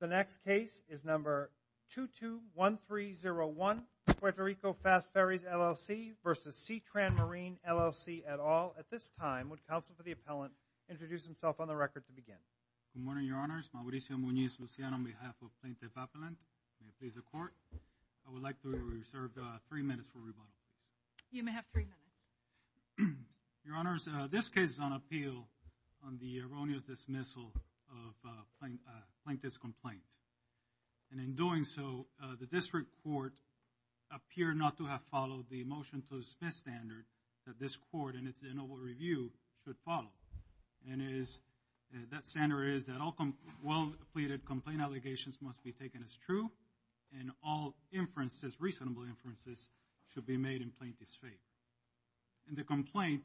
The next case is number 221301, Puerto Rico Fast Ferries LLC v. SeaTran Marine, LLC, et al. At this time, would counsel for the appellant introduce himself on the record to begin? Good morning, Your Honors. Mauricio Muñiz, Luciano, on behalf of Plaintiff Appellant. May it please the Court, I would like to reserve three minutes for rebuttal. You may have three minutes. Your Honors, this case is on appeal on the erroneous dismissal of plaintiff's complaint. And in doing so, the District Court appeared not to have followed the Motion to Dismiss standard that this Court, in its inaugural review, should follow. And that standard is that all well-pleaded complaint allegations must be taken as true and all inferences, reasonable inferences, should be made in plaintiff's faith. In the complaint,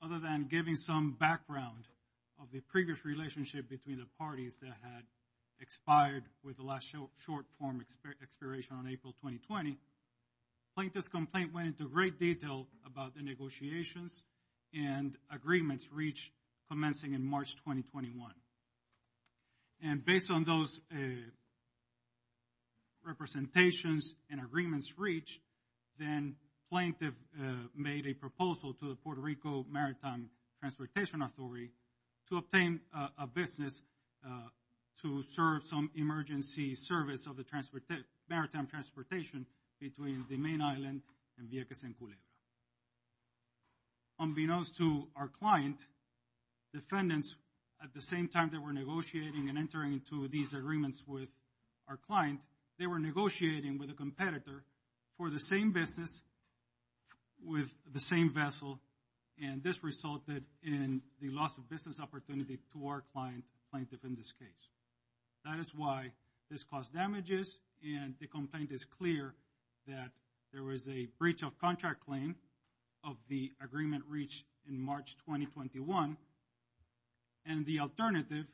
other than giving some background of the previous relationship between the parties that had expired with the last short-form expiration on April 2020, plaintiff's complaint went into great detail about the negotiations and agreements reached commencing in March 2021. And based on those representations and agreements reached, then plaintiff made a proposal to the Puerto Rico Maritime Transportation Authority to obtain a business to serve some emergency service of the maritime transportation between the main island and Vieques and Culebra. Unbeknownst to our client, defendants, at the same time they were negotiating and entering into these agreements with our client, they were negotiating with a competitor for the same business with the same vessel. And this resulted in the loss of business opportunity to our client, plaintiff, in this case. That is why this caused damages. And the complaint is clear that there was a breach of contract claim of the agreement reached in March 2021 and the alternative,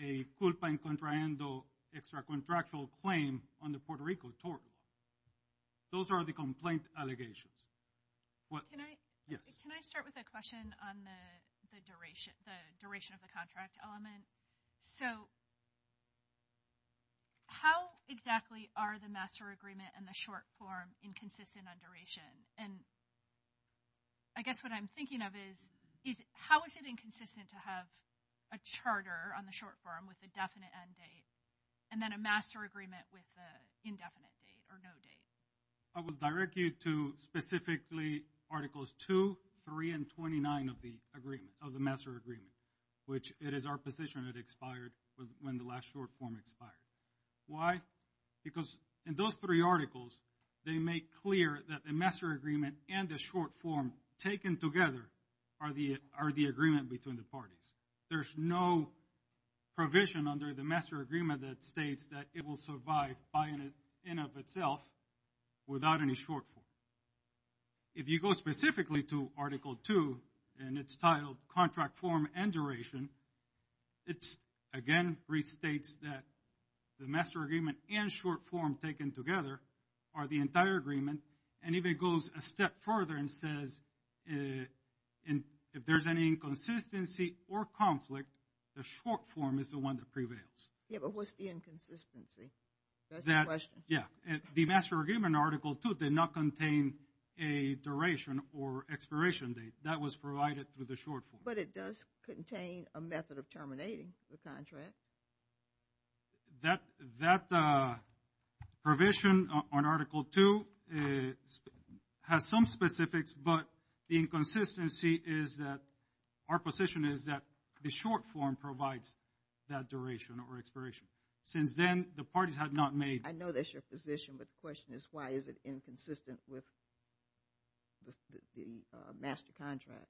a culpa en contraendo extra-contractual claim on the Puerto Rico tort. Those are the complaint allegations. Can I start with a question on the duration of the contract element? So how exactly are the master agreement and the short form inconsistent on duration? And I guess what I'm thinking of is how is it inconsistent to have a charter on the short form with the definite end date and then a master agreement with the indefinite date or no date? I will direct you to specifically Articles 2, 3, and 29 of the agreement, of the master agreement, which it is our position it expired when the last short form expired. Why? Because in those three articles, they make clear that the master agreement and the short form taken together are the agreement between the parties. There's no provision under the master agreement that states that it will survive by and of itself without any short form. If you go specifically to Article 2, and it's titled Contract Form and Duration, it again restates that the master agreement and short form taken together are the entire agreement. And if it goes a step further and says if there's any inconsistency or conflict, the short form is the one that prevails. Yeah, but what's the inconsistency? That's the question. Yeah, the master agreement Article 2 did not contain a duration or expiration date. That was provided through the short form. But it does contain a method of terminating the contract. That provision on Article 2 has some specifics, but the inconsistency is that our position is that the short form provides that duration or expiration. Since then, the parties have not made... I know that's your position, but the question is why is it inconsistent with the master contract,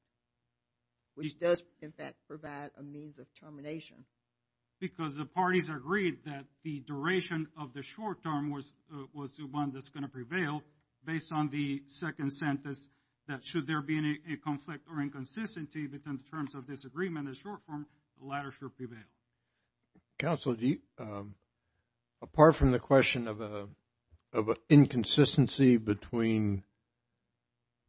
which does, in fact, provide a means of termination. Because the parties agreed that the duration of the short term was the one that's going to prevail based on the second sentence that should there be any conflict or inconsistency between the terms of this agreement and the short form, the latter should prevail. Counsel, apart from the question of an inconsistency between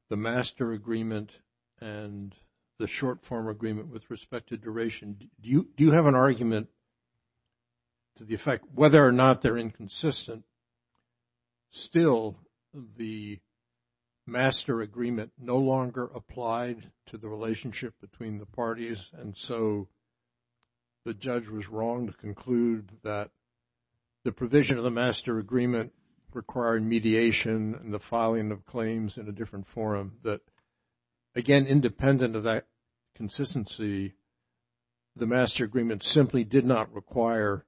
the master agreement and the short form agreement with respect to duration, do you have an argument to the effect whether or not they're inconsistent? Still, the master agreement no longer applied to the relationship between the parties, and so the judge was wrong to conclude that the provision of the master agreement required mediation and the filing of claims in a different forum. But, again, independent of that consistency, the master agreement simply did not require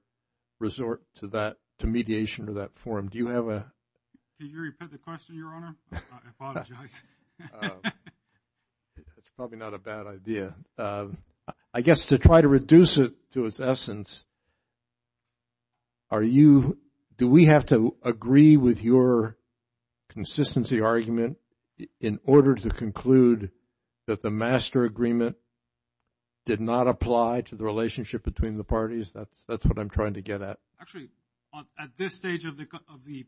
resort to mediation to that forum. Do you have a... I apologize. It's probably not a bad idea. I guess to try to reduce it to its essence, are you, do we have to agree with your consistency argument in order to conclude that the master agreement did not apply to the relationship between the parties? That's what I'm trying to get at. Actually, at this stage of the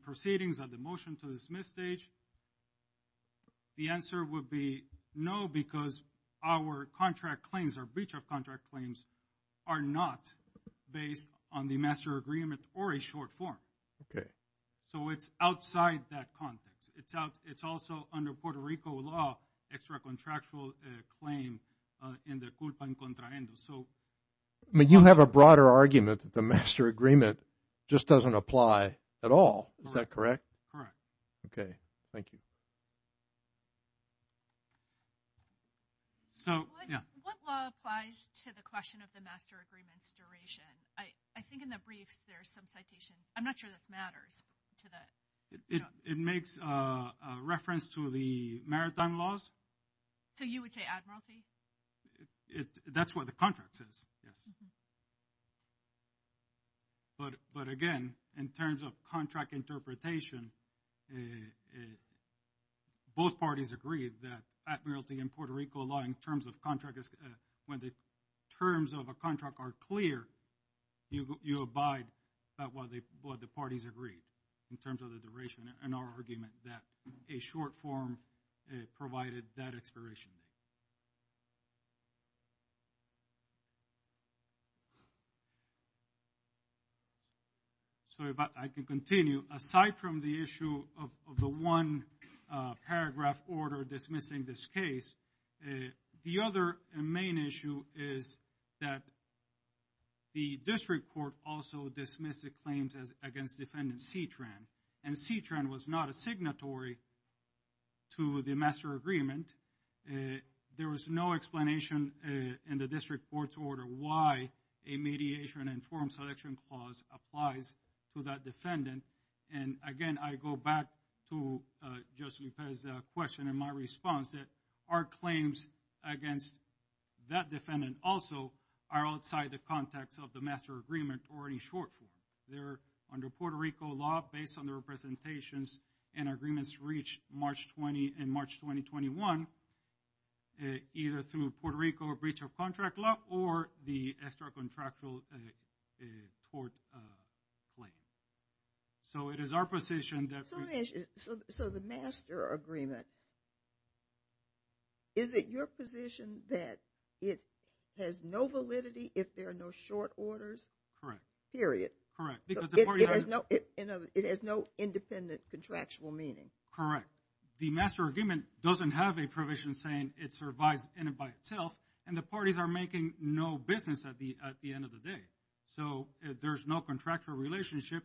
proceedings, at the motion to dismiss stage, the answer would be no because our contract claims, our breach of contract claims, are not based on the master agreement or a short form. So it's outside that context. It's also under Puerto Rico law, extra contractual claim in the culpa en contraendo. But you have a broader argument that the master agreement just doesn't apply at all. Is that correct? Correct. Okay, thank you. What law applies to the question of the master agreement's duration? I think in the briefs there's some citation. I'm not sure this matters to the... It makes reference to the maritime laws. So you would say admiralty? That's what the contract says, yes. But again, in terms of contract interpretation, both parties agreed that admiralty and Puerto Rico law in terms of contract, when the terms of a contract are clear, you abide by what the parties agreed in terms of the duration in our argument that a short form provided that expiration. Okay. Sorry, but I can continue. Aside from the issue of the one paragraph order dismissing this case, the other main issue is that the district court also dismissed the claims against defendant Citran. And Citran was not a signatory to the master agreement. There was no explanation in the district court's order why a mediation and forum selection clause applies to that defendant. And again, I go back to Justice Lopez's question and my response that our claims against that defendant also are outside the context of the master agreement or any short form. They're under Puerto Rico law based on their representations and agreements reached March 20 and March 2021 either through Puerto Rico or breach of contract law or the extra contractual court claim. So it is our position that... So the master agreement, is it your position that it has no validity if there are no short orders? Correct. Period. Correct. It has no independent contractual meaning. Correct. The master agreement doesn't have a provision saying it survives in and by itself and the parties are making no business at the end of the day. So there's no contractual relationship.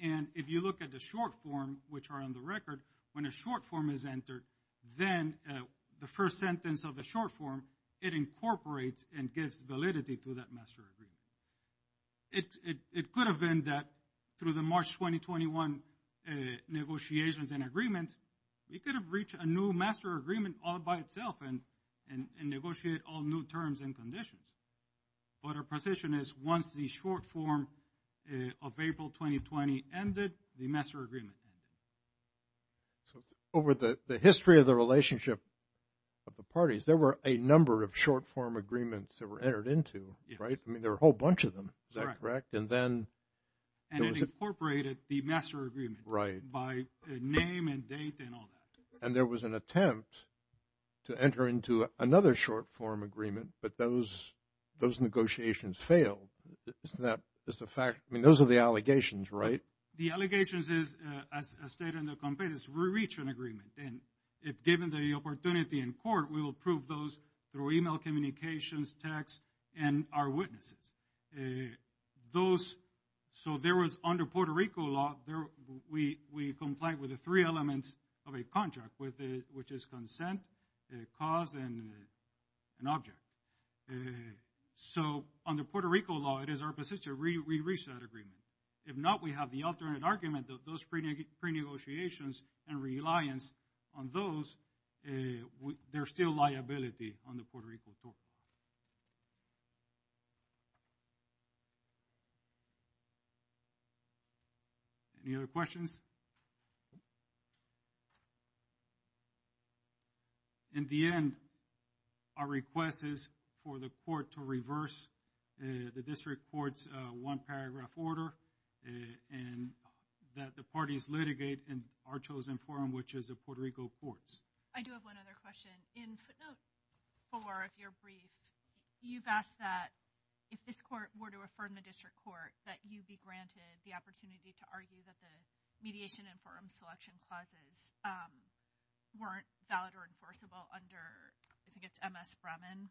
And if you look at the short form, which are on the record, when a short form is entered, then the first sentence of the short form, it incorporates and gives validity to that master agreement. It could have been that through the March 2021 negotiations and agreements, we could have reached a new master agreement all by itself and negotiate all new terms and conditions. But our position is once the short form of April 2020 ended, the master agreement ended. Over the history of the relationship of the parties, there were a number of short form agreements that were entered into, right? I mean, there are a whole bunch of them. Is that correct? And then. And it incorporated the master agreement. Right. By name and date and all that. And there was an attempt to enter into another short form agreement, but those negotiations failed. Isn't that just a fact? I mean, those are the allegations, right? The allegations is, as stated in the complaint, is to reach an agreement. And if given the opportunity in court, we will prove those through e-mail communications, text, and our witnesses. Those. So there was under Puerto Rico law, we comply with the three elements of a contract, which is consent, cause, and object. So under Puerto Rico law, it is our position to reach that agreement. If not, we have the alternate argument that those pre-negotiations and reliance on those, there's still liability on the Puerto Rico court. Any other questions? In the end, our request is for the court to reverse the district court's one paragraph order and that the parties litigate in our chosen forum, which is the Puerto Rico courts. I do have one other question. In footnotes four of your brief, you've asked that if this court were to affirm the district court, that you'd be granted the opportunity to argue that the mediation and forum selection clauses weren't valid or enforceable under, I think it's MS Bremen.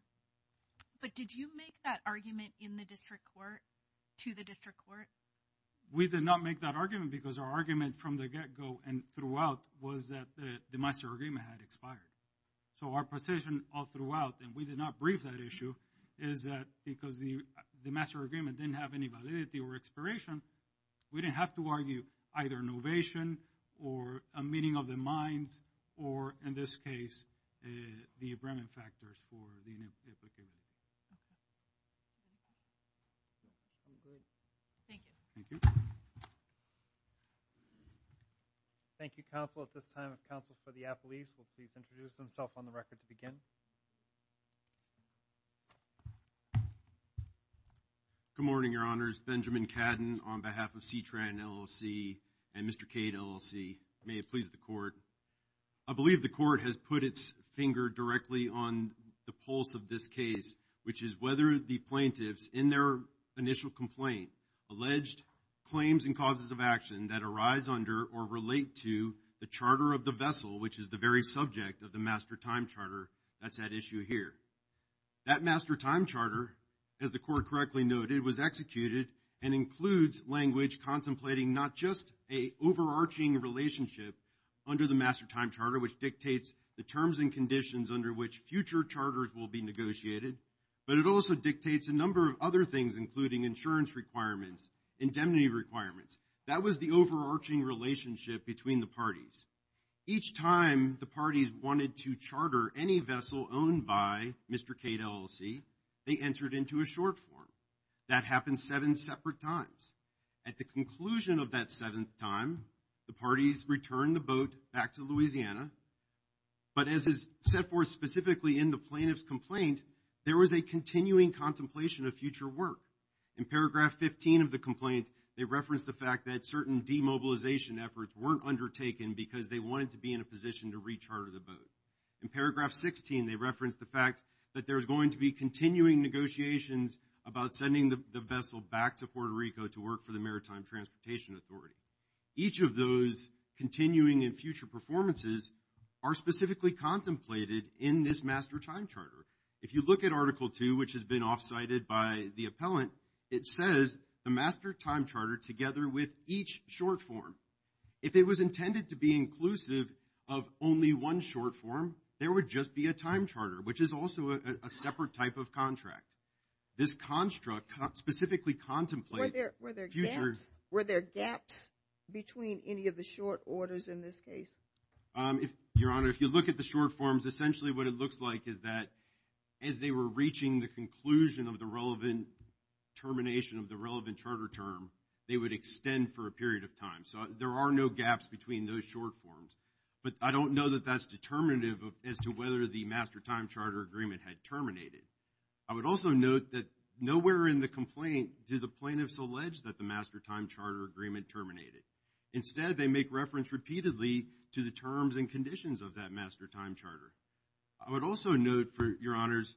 But did you make that argument in the district court to the district court? We did not make that argument because our argument from the get-go and throughout was that the master agreement had expired. So our position all throughout, and we did not brief that issue, is that because the master agreement didn't have any validity or expiration, we didn't have to argue either innovation or a meeting of the minds or, in this case, the Bremen factors for the new application. Thank you. Thank you. Thank you, counsel. At this time, if counsel for the appellees will please introduce themselves on the record to begin. Good morning, your honors. Benjamin Cadden on behalf of CTRAN LLC and Mr. Cade LLC. May it please the court. I believe the court has put its finger directly on the pulse of this case, which is whether the plaintiffs in their initial complaint alleged claims and causes of action that arise under or relate to the charter of the vessel, which is the very subject of the master time charter that's at issue here. That master time charter, as the court correctly noted, was executed and includes language contemplating not just an overarching relationship under the master time charter, which dictates the terms and conditions under which future charters will be negotiated, but it also dictates a number of other things, including insurance requirements, indemnity requirements. That was the overarching relationship between the parties. Each time the parties wanted to charter any vessel owned by Mr. Cade LLC, they entered into a short form. That happened seven separate times. At the conclusion of that seventh time, the parties returned the boat back to Louisiana, but as is set forth specifically in the plaintiff's complaint, there was a continuing contemplation of future work. In paragraph 15 of the complaint, they referenced the fact that certain demobilization efforts weren't undertaken because they wanted to be in a position to recharter the boat. In paragraph 16, they referenced the fact that there's going to be continuing negotiations about sending the vessel back to Puerto Rico to work for the Maritime Transportation Authority. Each of those continuing and future performances are specifically contemplated in this master time charter. If you look at Article 2, which has been off-cited by the appellant, it says the master time charter together with each short form. If it was intended to be inclusive of only one short form, there would just be a time charter, which is also a separate type of contract. This construct specifically contemplates futures. Were there gaps between any of the short orders in this case? Your Honor, if you look at the short forms, essentially what it looks like is that as they were reaching the conclusion of the relevant termination of the relevant charter term, they would extend for a period of time. So there are no gaps between those short forms, but I don't know that that's determinative as to whether the master time charter agreement had terminated. I would also note that nowhere in the complaint do the plaintiffs allege that the master time charter agreement terminated. Instead, they make reference repeatedly to the terms and conditions of that master time charter. I would also note, Your Honors,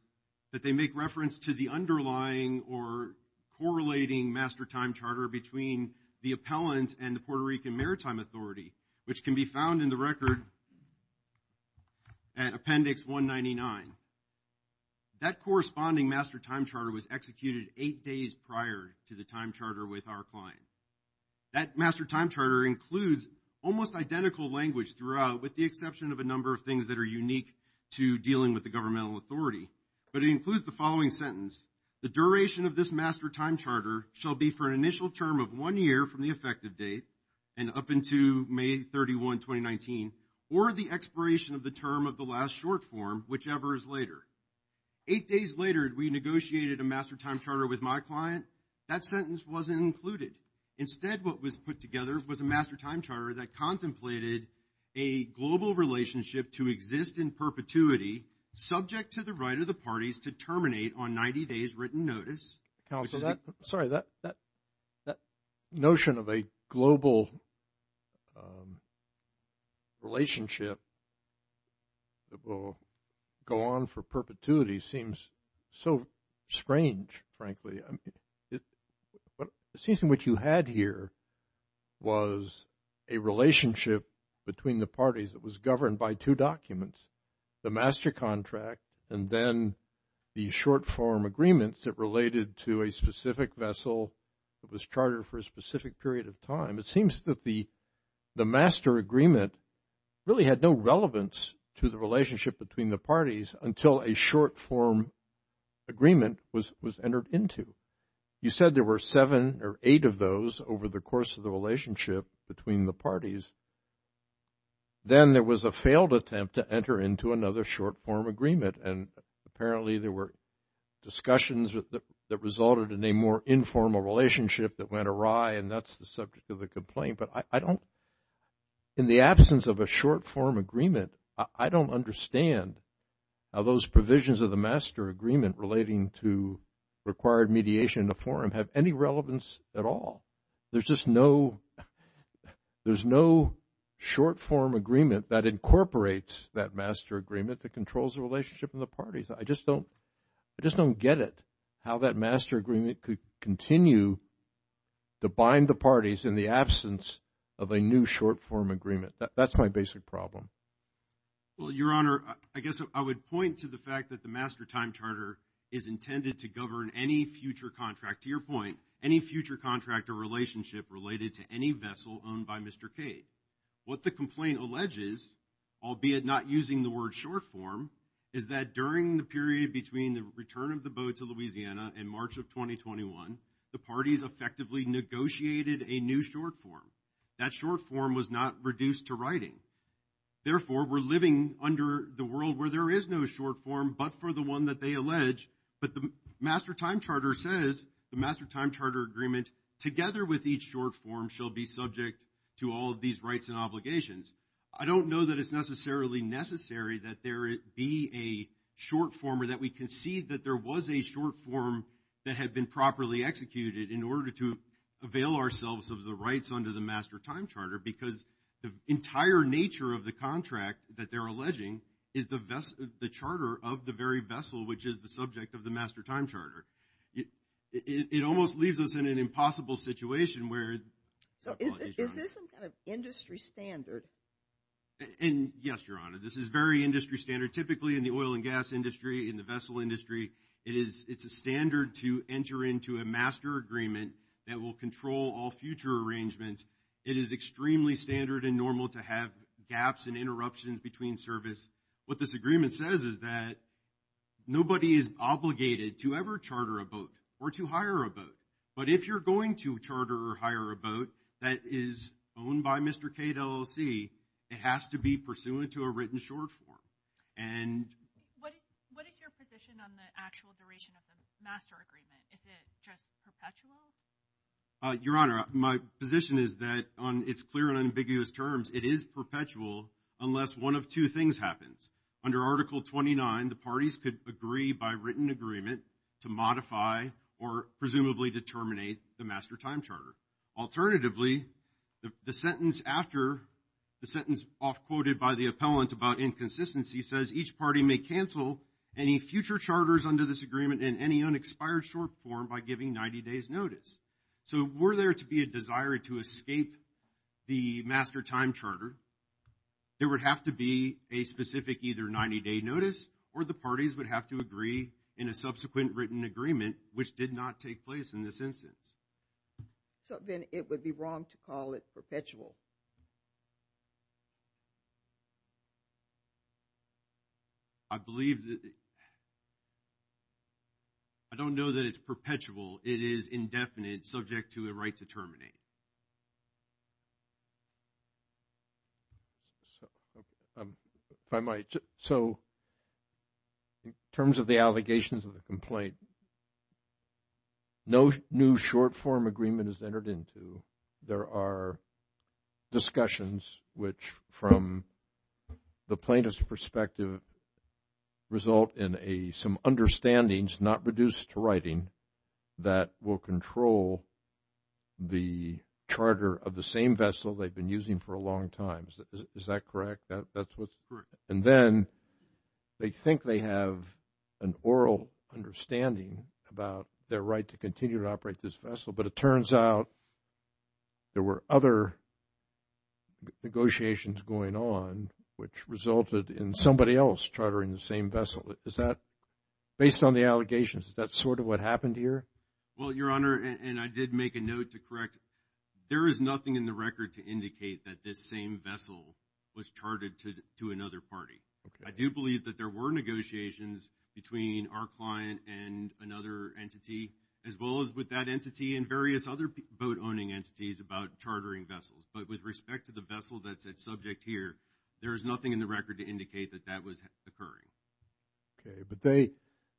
that they make reference to the underlying or correlating master time charter between the appellant and the Puerto Rican Maritime Authority, which can be found in the record at Appendix 199. That corresponding master time charter was executed eight days prior to the time charter with our client. That master time charter includes almost identical language throughout, with the exception of a number of things that are unique to dealing with the governmental authority. But it includes the following sentence. The duration of this master time charter shall be for an initial term of one year from the effective date and up into May 31, 2019, or the expiration of the term of the last short form, whichever is later. Eight days later, we negotiated a master time charter with my client. That sentence wasn't included. Instead, what was put together was a master time charter that contemplated a global relationship to exist in perpetuity, subject to the right of the parties to terminate on 90 days written notice. Sorry, that notion of a global relationship that will go on for perpetuity seems so strange, frankly. It seems to me what you had here was a relationship between the parties that was governed by two documents, the master contract and then the short form agreements that related to a specific vessel that was chartered for a specific period of time. It seems that the master agreement really had no relevance to the relationship between the parties until a short form agreement was entered into. You said there were seven or eight of those over the course of the relationship between the parties. Then there was a failed attempt to enter into another short form agreement, and apparently there were discussions that resulted in a more informal relationship that went awry, and that's the subject of the complaint. But I don't, in the absence of a short form agreement, I don't understand how those provisions of the master agreement relating to required mediation in the forum have any relevance at all. There's just no short form agreement that incorporates that master agreement that controls the relationship of the parties. I just don't get it, how that master agreement could continue to bind the parties in the absence of a new short form agreement. That's my basic problem. Well, Your Honor, I guess I would point to the fact that the master time charter is intended to govern any future contract. To your point, any future contract or relationship related to any vessel owned by Mr. Cade. What the complaint alleges, albeit not using the word short form, is that during the period between the return of the boat to Louisiana in March of 2021, the parties effectively negotiated a new short form. That short form was not reduced to writing. Therefore, we're living under the world where there is no short form but for the one that they allege. But the master time charter says, the master time charter agreement, together with each short form, shall be subject to all of these rights and obligations. I don't know that it's necessarily necessary that there be a short form or that we concede that there was a short form that had been properly executed in order to avail ourselves of the rights under the master time charter. Because the entire nature of the contract that they're alleging is the charter of the very vessel, which is the subject of the master time charter. It almost leaves us in an impossible situation where… So is this some kind of industry standard? And yes, Your Honor, this is very industry standard. Typically, in the oil and gas industry, in the vessel industry, it's a standard to enter into a master agreement that will control all future arrangements. It is extremely standard and normal to have gaps and interruptions between service. What this agreement says is that nobody is obligated to ever charter a boat or to hire a boat. But if you're going to charter or hire a boat that is owned by Mr. Cade LLC, it has to be pursuant to a written short form. And… What is your position on the actual duration of the master agreement? Is it just perpetual? Your Honor, my position is that on its clear and ambiguous terms, it is perpetual unless one of two things happens. Under Article 29, the parties could agree by written agreement to modify or presumably to terminate the master time charter. Alternatively, the sentence after, the sentence off-quoted by the appellant about inconsistency says each party may cancel any future charters under this agreement in any unexpired short form by giving 90 days notice. So were there to be a desire to escape the master time charter, there would have to be a specific either 90-day notice or the parties would have to agree in a subsequent written agreement, which did not take place in this instance. So then it would be wrong to call it perpetual? I believe that – I don't know that it's perpetual. It is indefinite, subject to a right to terminate. If I might. So in terms of the allegations of the complaint, no new short form agreement is entered into. There are discussions which from the plaintiff's perspective result in some understandings not reduced to writing that will control the charter of the same vessel they've been using for a long time. Is that correct? That's what's – and then they think they have an oral understanding about their right to continue to operate this vessel. But it turns out there were other negotiations going on which resulted in somebody else chartering the same vessel. Is that – based on the allegations, is that sort of what happened here? Well, Your Honor, and I did make a note to correct. There is nothing in the record to indicate that this same vessel was chartered to another party. I do believe that there were negotiations between our client and another entity as well as with that entity and various other boat-owning entities about chartering vessels. But with respect to the vessel that's at subject here, there is nothing in the record to indicate that that was occurring. Okay. But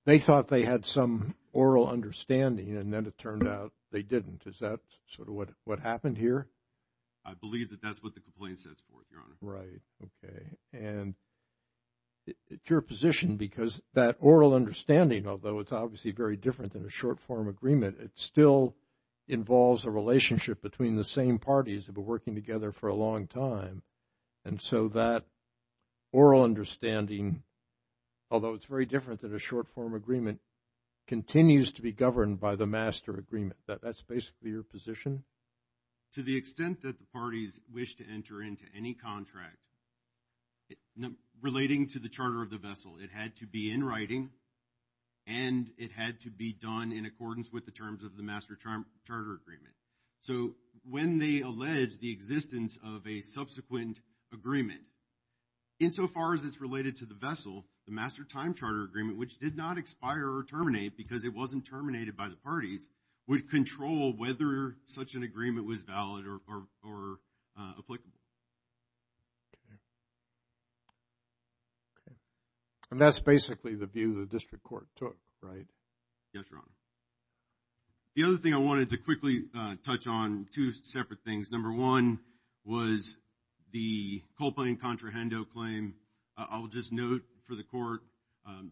they thought they had some oral understanding, and then it turned out they didn't. Is that sort of what happened here? I believe that that's what the complaint sets forth, Your Honor. Right. Okay. And it's your position because that oral understanding, although it's obviously very different than a short-form agreement, it still involves a relationship between the same parties that have been working together for a long time. And so that oral understanding, although it's very different than a short-form agreement, continues to be governed by the master agreement. That's basically your position? To the extent that the parties wish to enter into any contract relating to the charter of the vessel, it had to be in writing and it had to be done in accordance with the terms of the master charter agreement. So when they allege the existence of a subsequent agreement, insofar as it's related to the vessel, the master time charter agreement, which did not expire or terminate because it wasn't terminated by the parties, would control whether such an agreement was valid or applicable. Okay. Okay. And that's basically the view the district court took, right? Yes, Your Honor. The other thing I wanted to quickly touch on, two separate things. Number one was the coal plane contrahendo claim. I'll just note for the court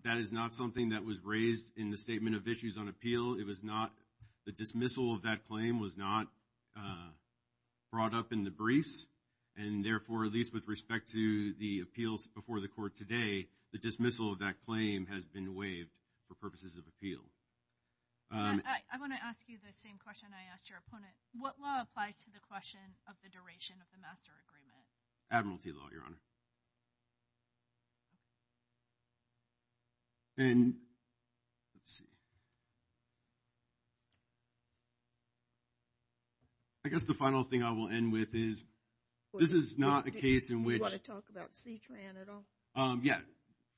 that is not something that was raised in the Statement of Issues on Appeal. It was not the dismissal of that claim was not brought up in the briefs. And therefore, at least with respect to the appeals before the court today, the dismissal of that claim has been waived for purposes of appeal. I want to ask you the same question I asked your opponent. What law applies to the question of the duration of the master agreement? Admiralty law, Your Honor. Okay. And let's see. I guess the final thing I will end with is this is not a case in which. Do you want to talk about C-TRAN at all? Yeah.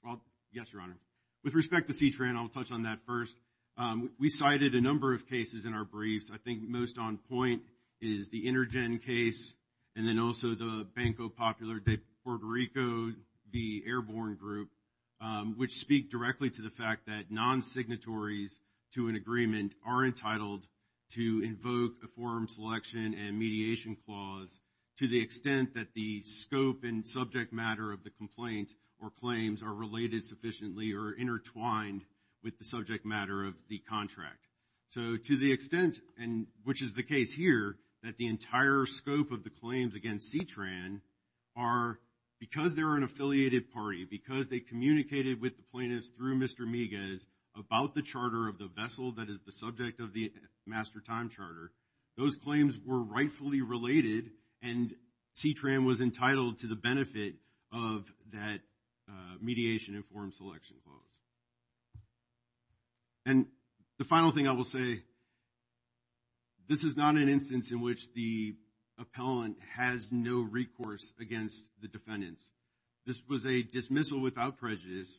Well, yes, Your Honor. With respect to C-TRAN, I'll touch on that first. We cited a number of cases in our briefs. I think most on point is the Intergen case and then also the Banco Popular de Puerto Rico, the Airborne Group, which speak directly to the fact that non-signatories to an agreement are entitled to invoke a forum selection and mediation clause to the extent that the scope and subject matter of the complaint or claims are related sufficiently or intertwined with the subject matter of the contract. So, to the extent, and which is the case here, that the entire scope of the claims against C-TRAN are, because they're an affiliated party, because they communicated with the plaintiffs through Mr. Miguez about the charter of the vessel that is the subject of the master time charter, those claims were rightfully related and C-TRAN was entitled to the benefit of that mediation and forum selection clause. And the final thing I will say, this is not an instance in which the appellant has no recourse against the defendants. This was a dismissal without prejudice.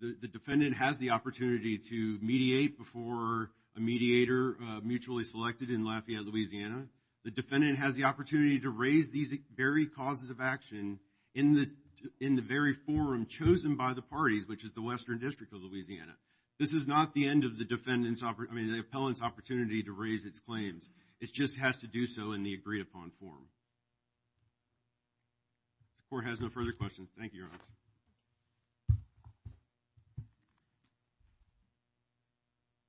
The defendant has the opportunity to mediate before a mediator mutually selected in Lafayette, Louisiana. The defendant has the opportunity to raise these very causes of action in the very forum chosen by the parties, which is the Western District of Louisiana. This is not the end of the defendant's, I mean, the appellant's opportunity to raise its claims. It just has to do so in the agreed-upon forum. If the court has no further questions, thank you, Your Honor.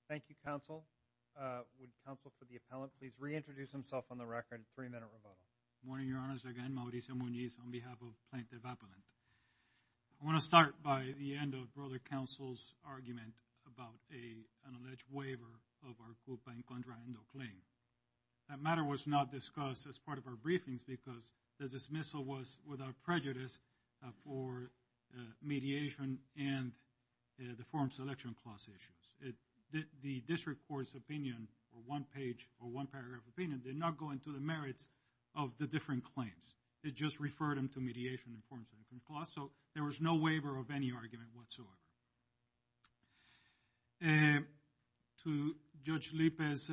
Thank you, counsel. Would counsel for the appellant please reintroduce himself on the record, three-minute rebuttal. Good morning, Your Honors. Again, Mauricio Mugniz on behalf of Plaintiff Appellants. I want to start by the end of Brother Counsel's argument about an alleged waiver of our group-bank contra-endo claim. That matter was not discussed as part of our briefings because the dismissal was without prejudice for mediation and the forum selection clause issues. The district court's opinion or one-page or one-paragraph opinion did not go into the merits of the different claims. It just referred them to mediation and the forum selection clause. So there was no waiver of any argument whatsoever. To Judge Lippe's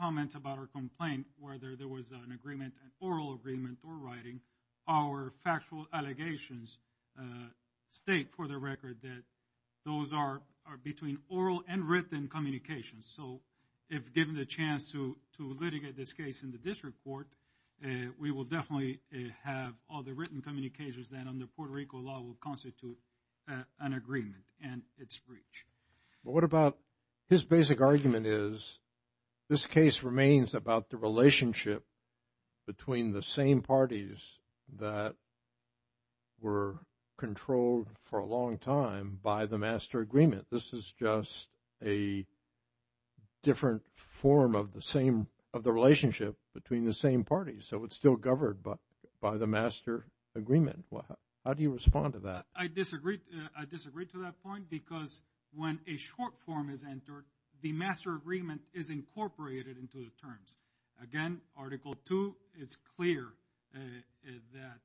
comment about our complaint, whether there was an agreement, an oral agreement or writing, our factual allegations state for the record that those are between oral and written communications. So if given the chance to litigate this case in the district court, we will definitely have all the written communications that under Puerto Rico law will constitute an agreement and its breach. What about his basic argument is this case remains about the relationship between the same parties that were controlled for a long time by the master agreement. This is just a different form of the relationship between the same parties. So it's still governed by the master agreement. How do you respond to that? I disagree to that point because when a short form is entered, the master agreement is incorporated into the terms. Again, Article II, it's clear that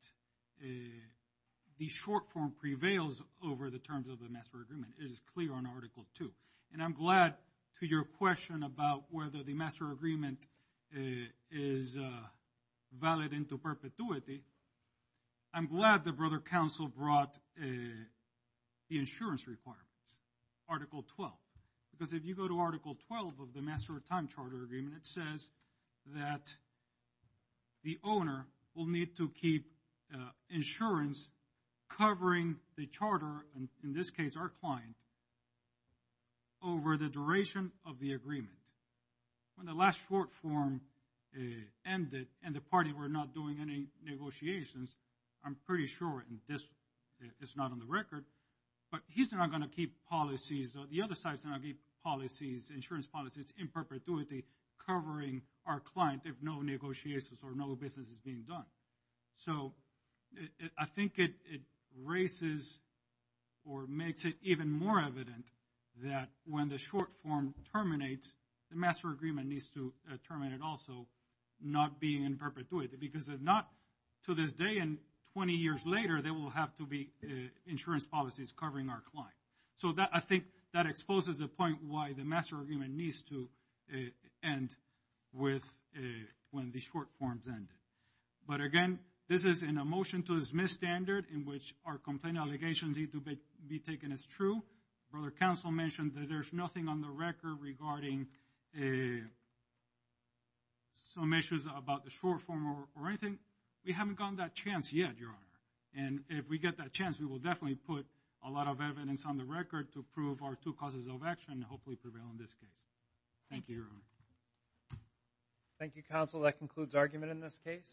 the short form prevails over the terms of the master agreement. It is clear on Article II. And I'm glad to your question about whether the master agreement is valid into perpetuity. I'm glad the brother council brought the insurance requirements, Article XII, because if you go to Article XII of the master time charter agreement, it says that the owner will need to keep insurance covering the charter, in this case our client, over the duration of the agreement. When the last short form ended and the parties were not doing any negotiations, I'm pretty sure this is not on the record, but he's not going to keep policies, the other side is going to keep policies, insurance policies in perpetuity covering our client if no negotiations or no business is being done. So I think it raises or makes it even more evident that when the short form terminates, the master agreement needs to terminate also, not being in perpetuity, because if not to this day and 20 years later, there will have to be insurance policies covering our client. So I think that exposes the point why the master agreement needs to end when the short forms end. But again, this is in a motion to dismiss standard in which our complaint allegations need to be taken as true. Brother council mentioned that there's nothing on the record regarding some issues about the short form or anything. We haven't gotten that chance yet, Your Honor. And if we get that chance, we will definitely put a lot of evidence on the record to prove our two causes of action and hopefully prevail in this case. Thank you, Your Honor. Thank you, counsel. That concludes argument in this case.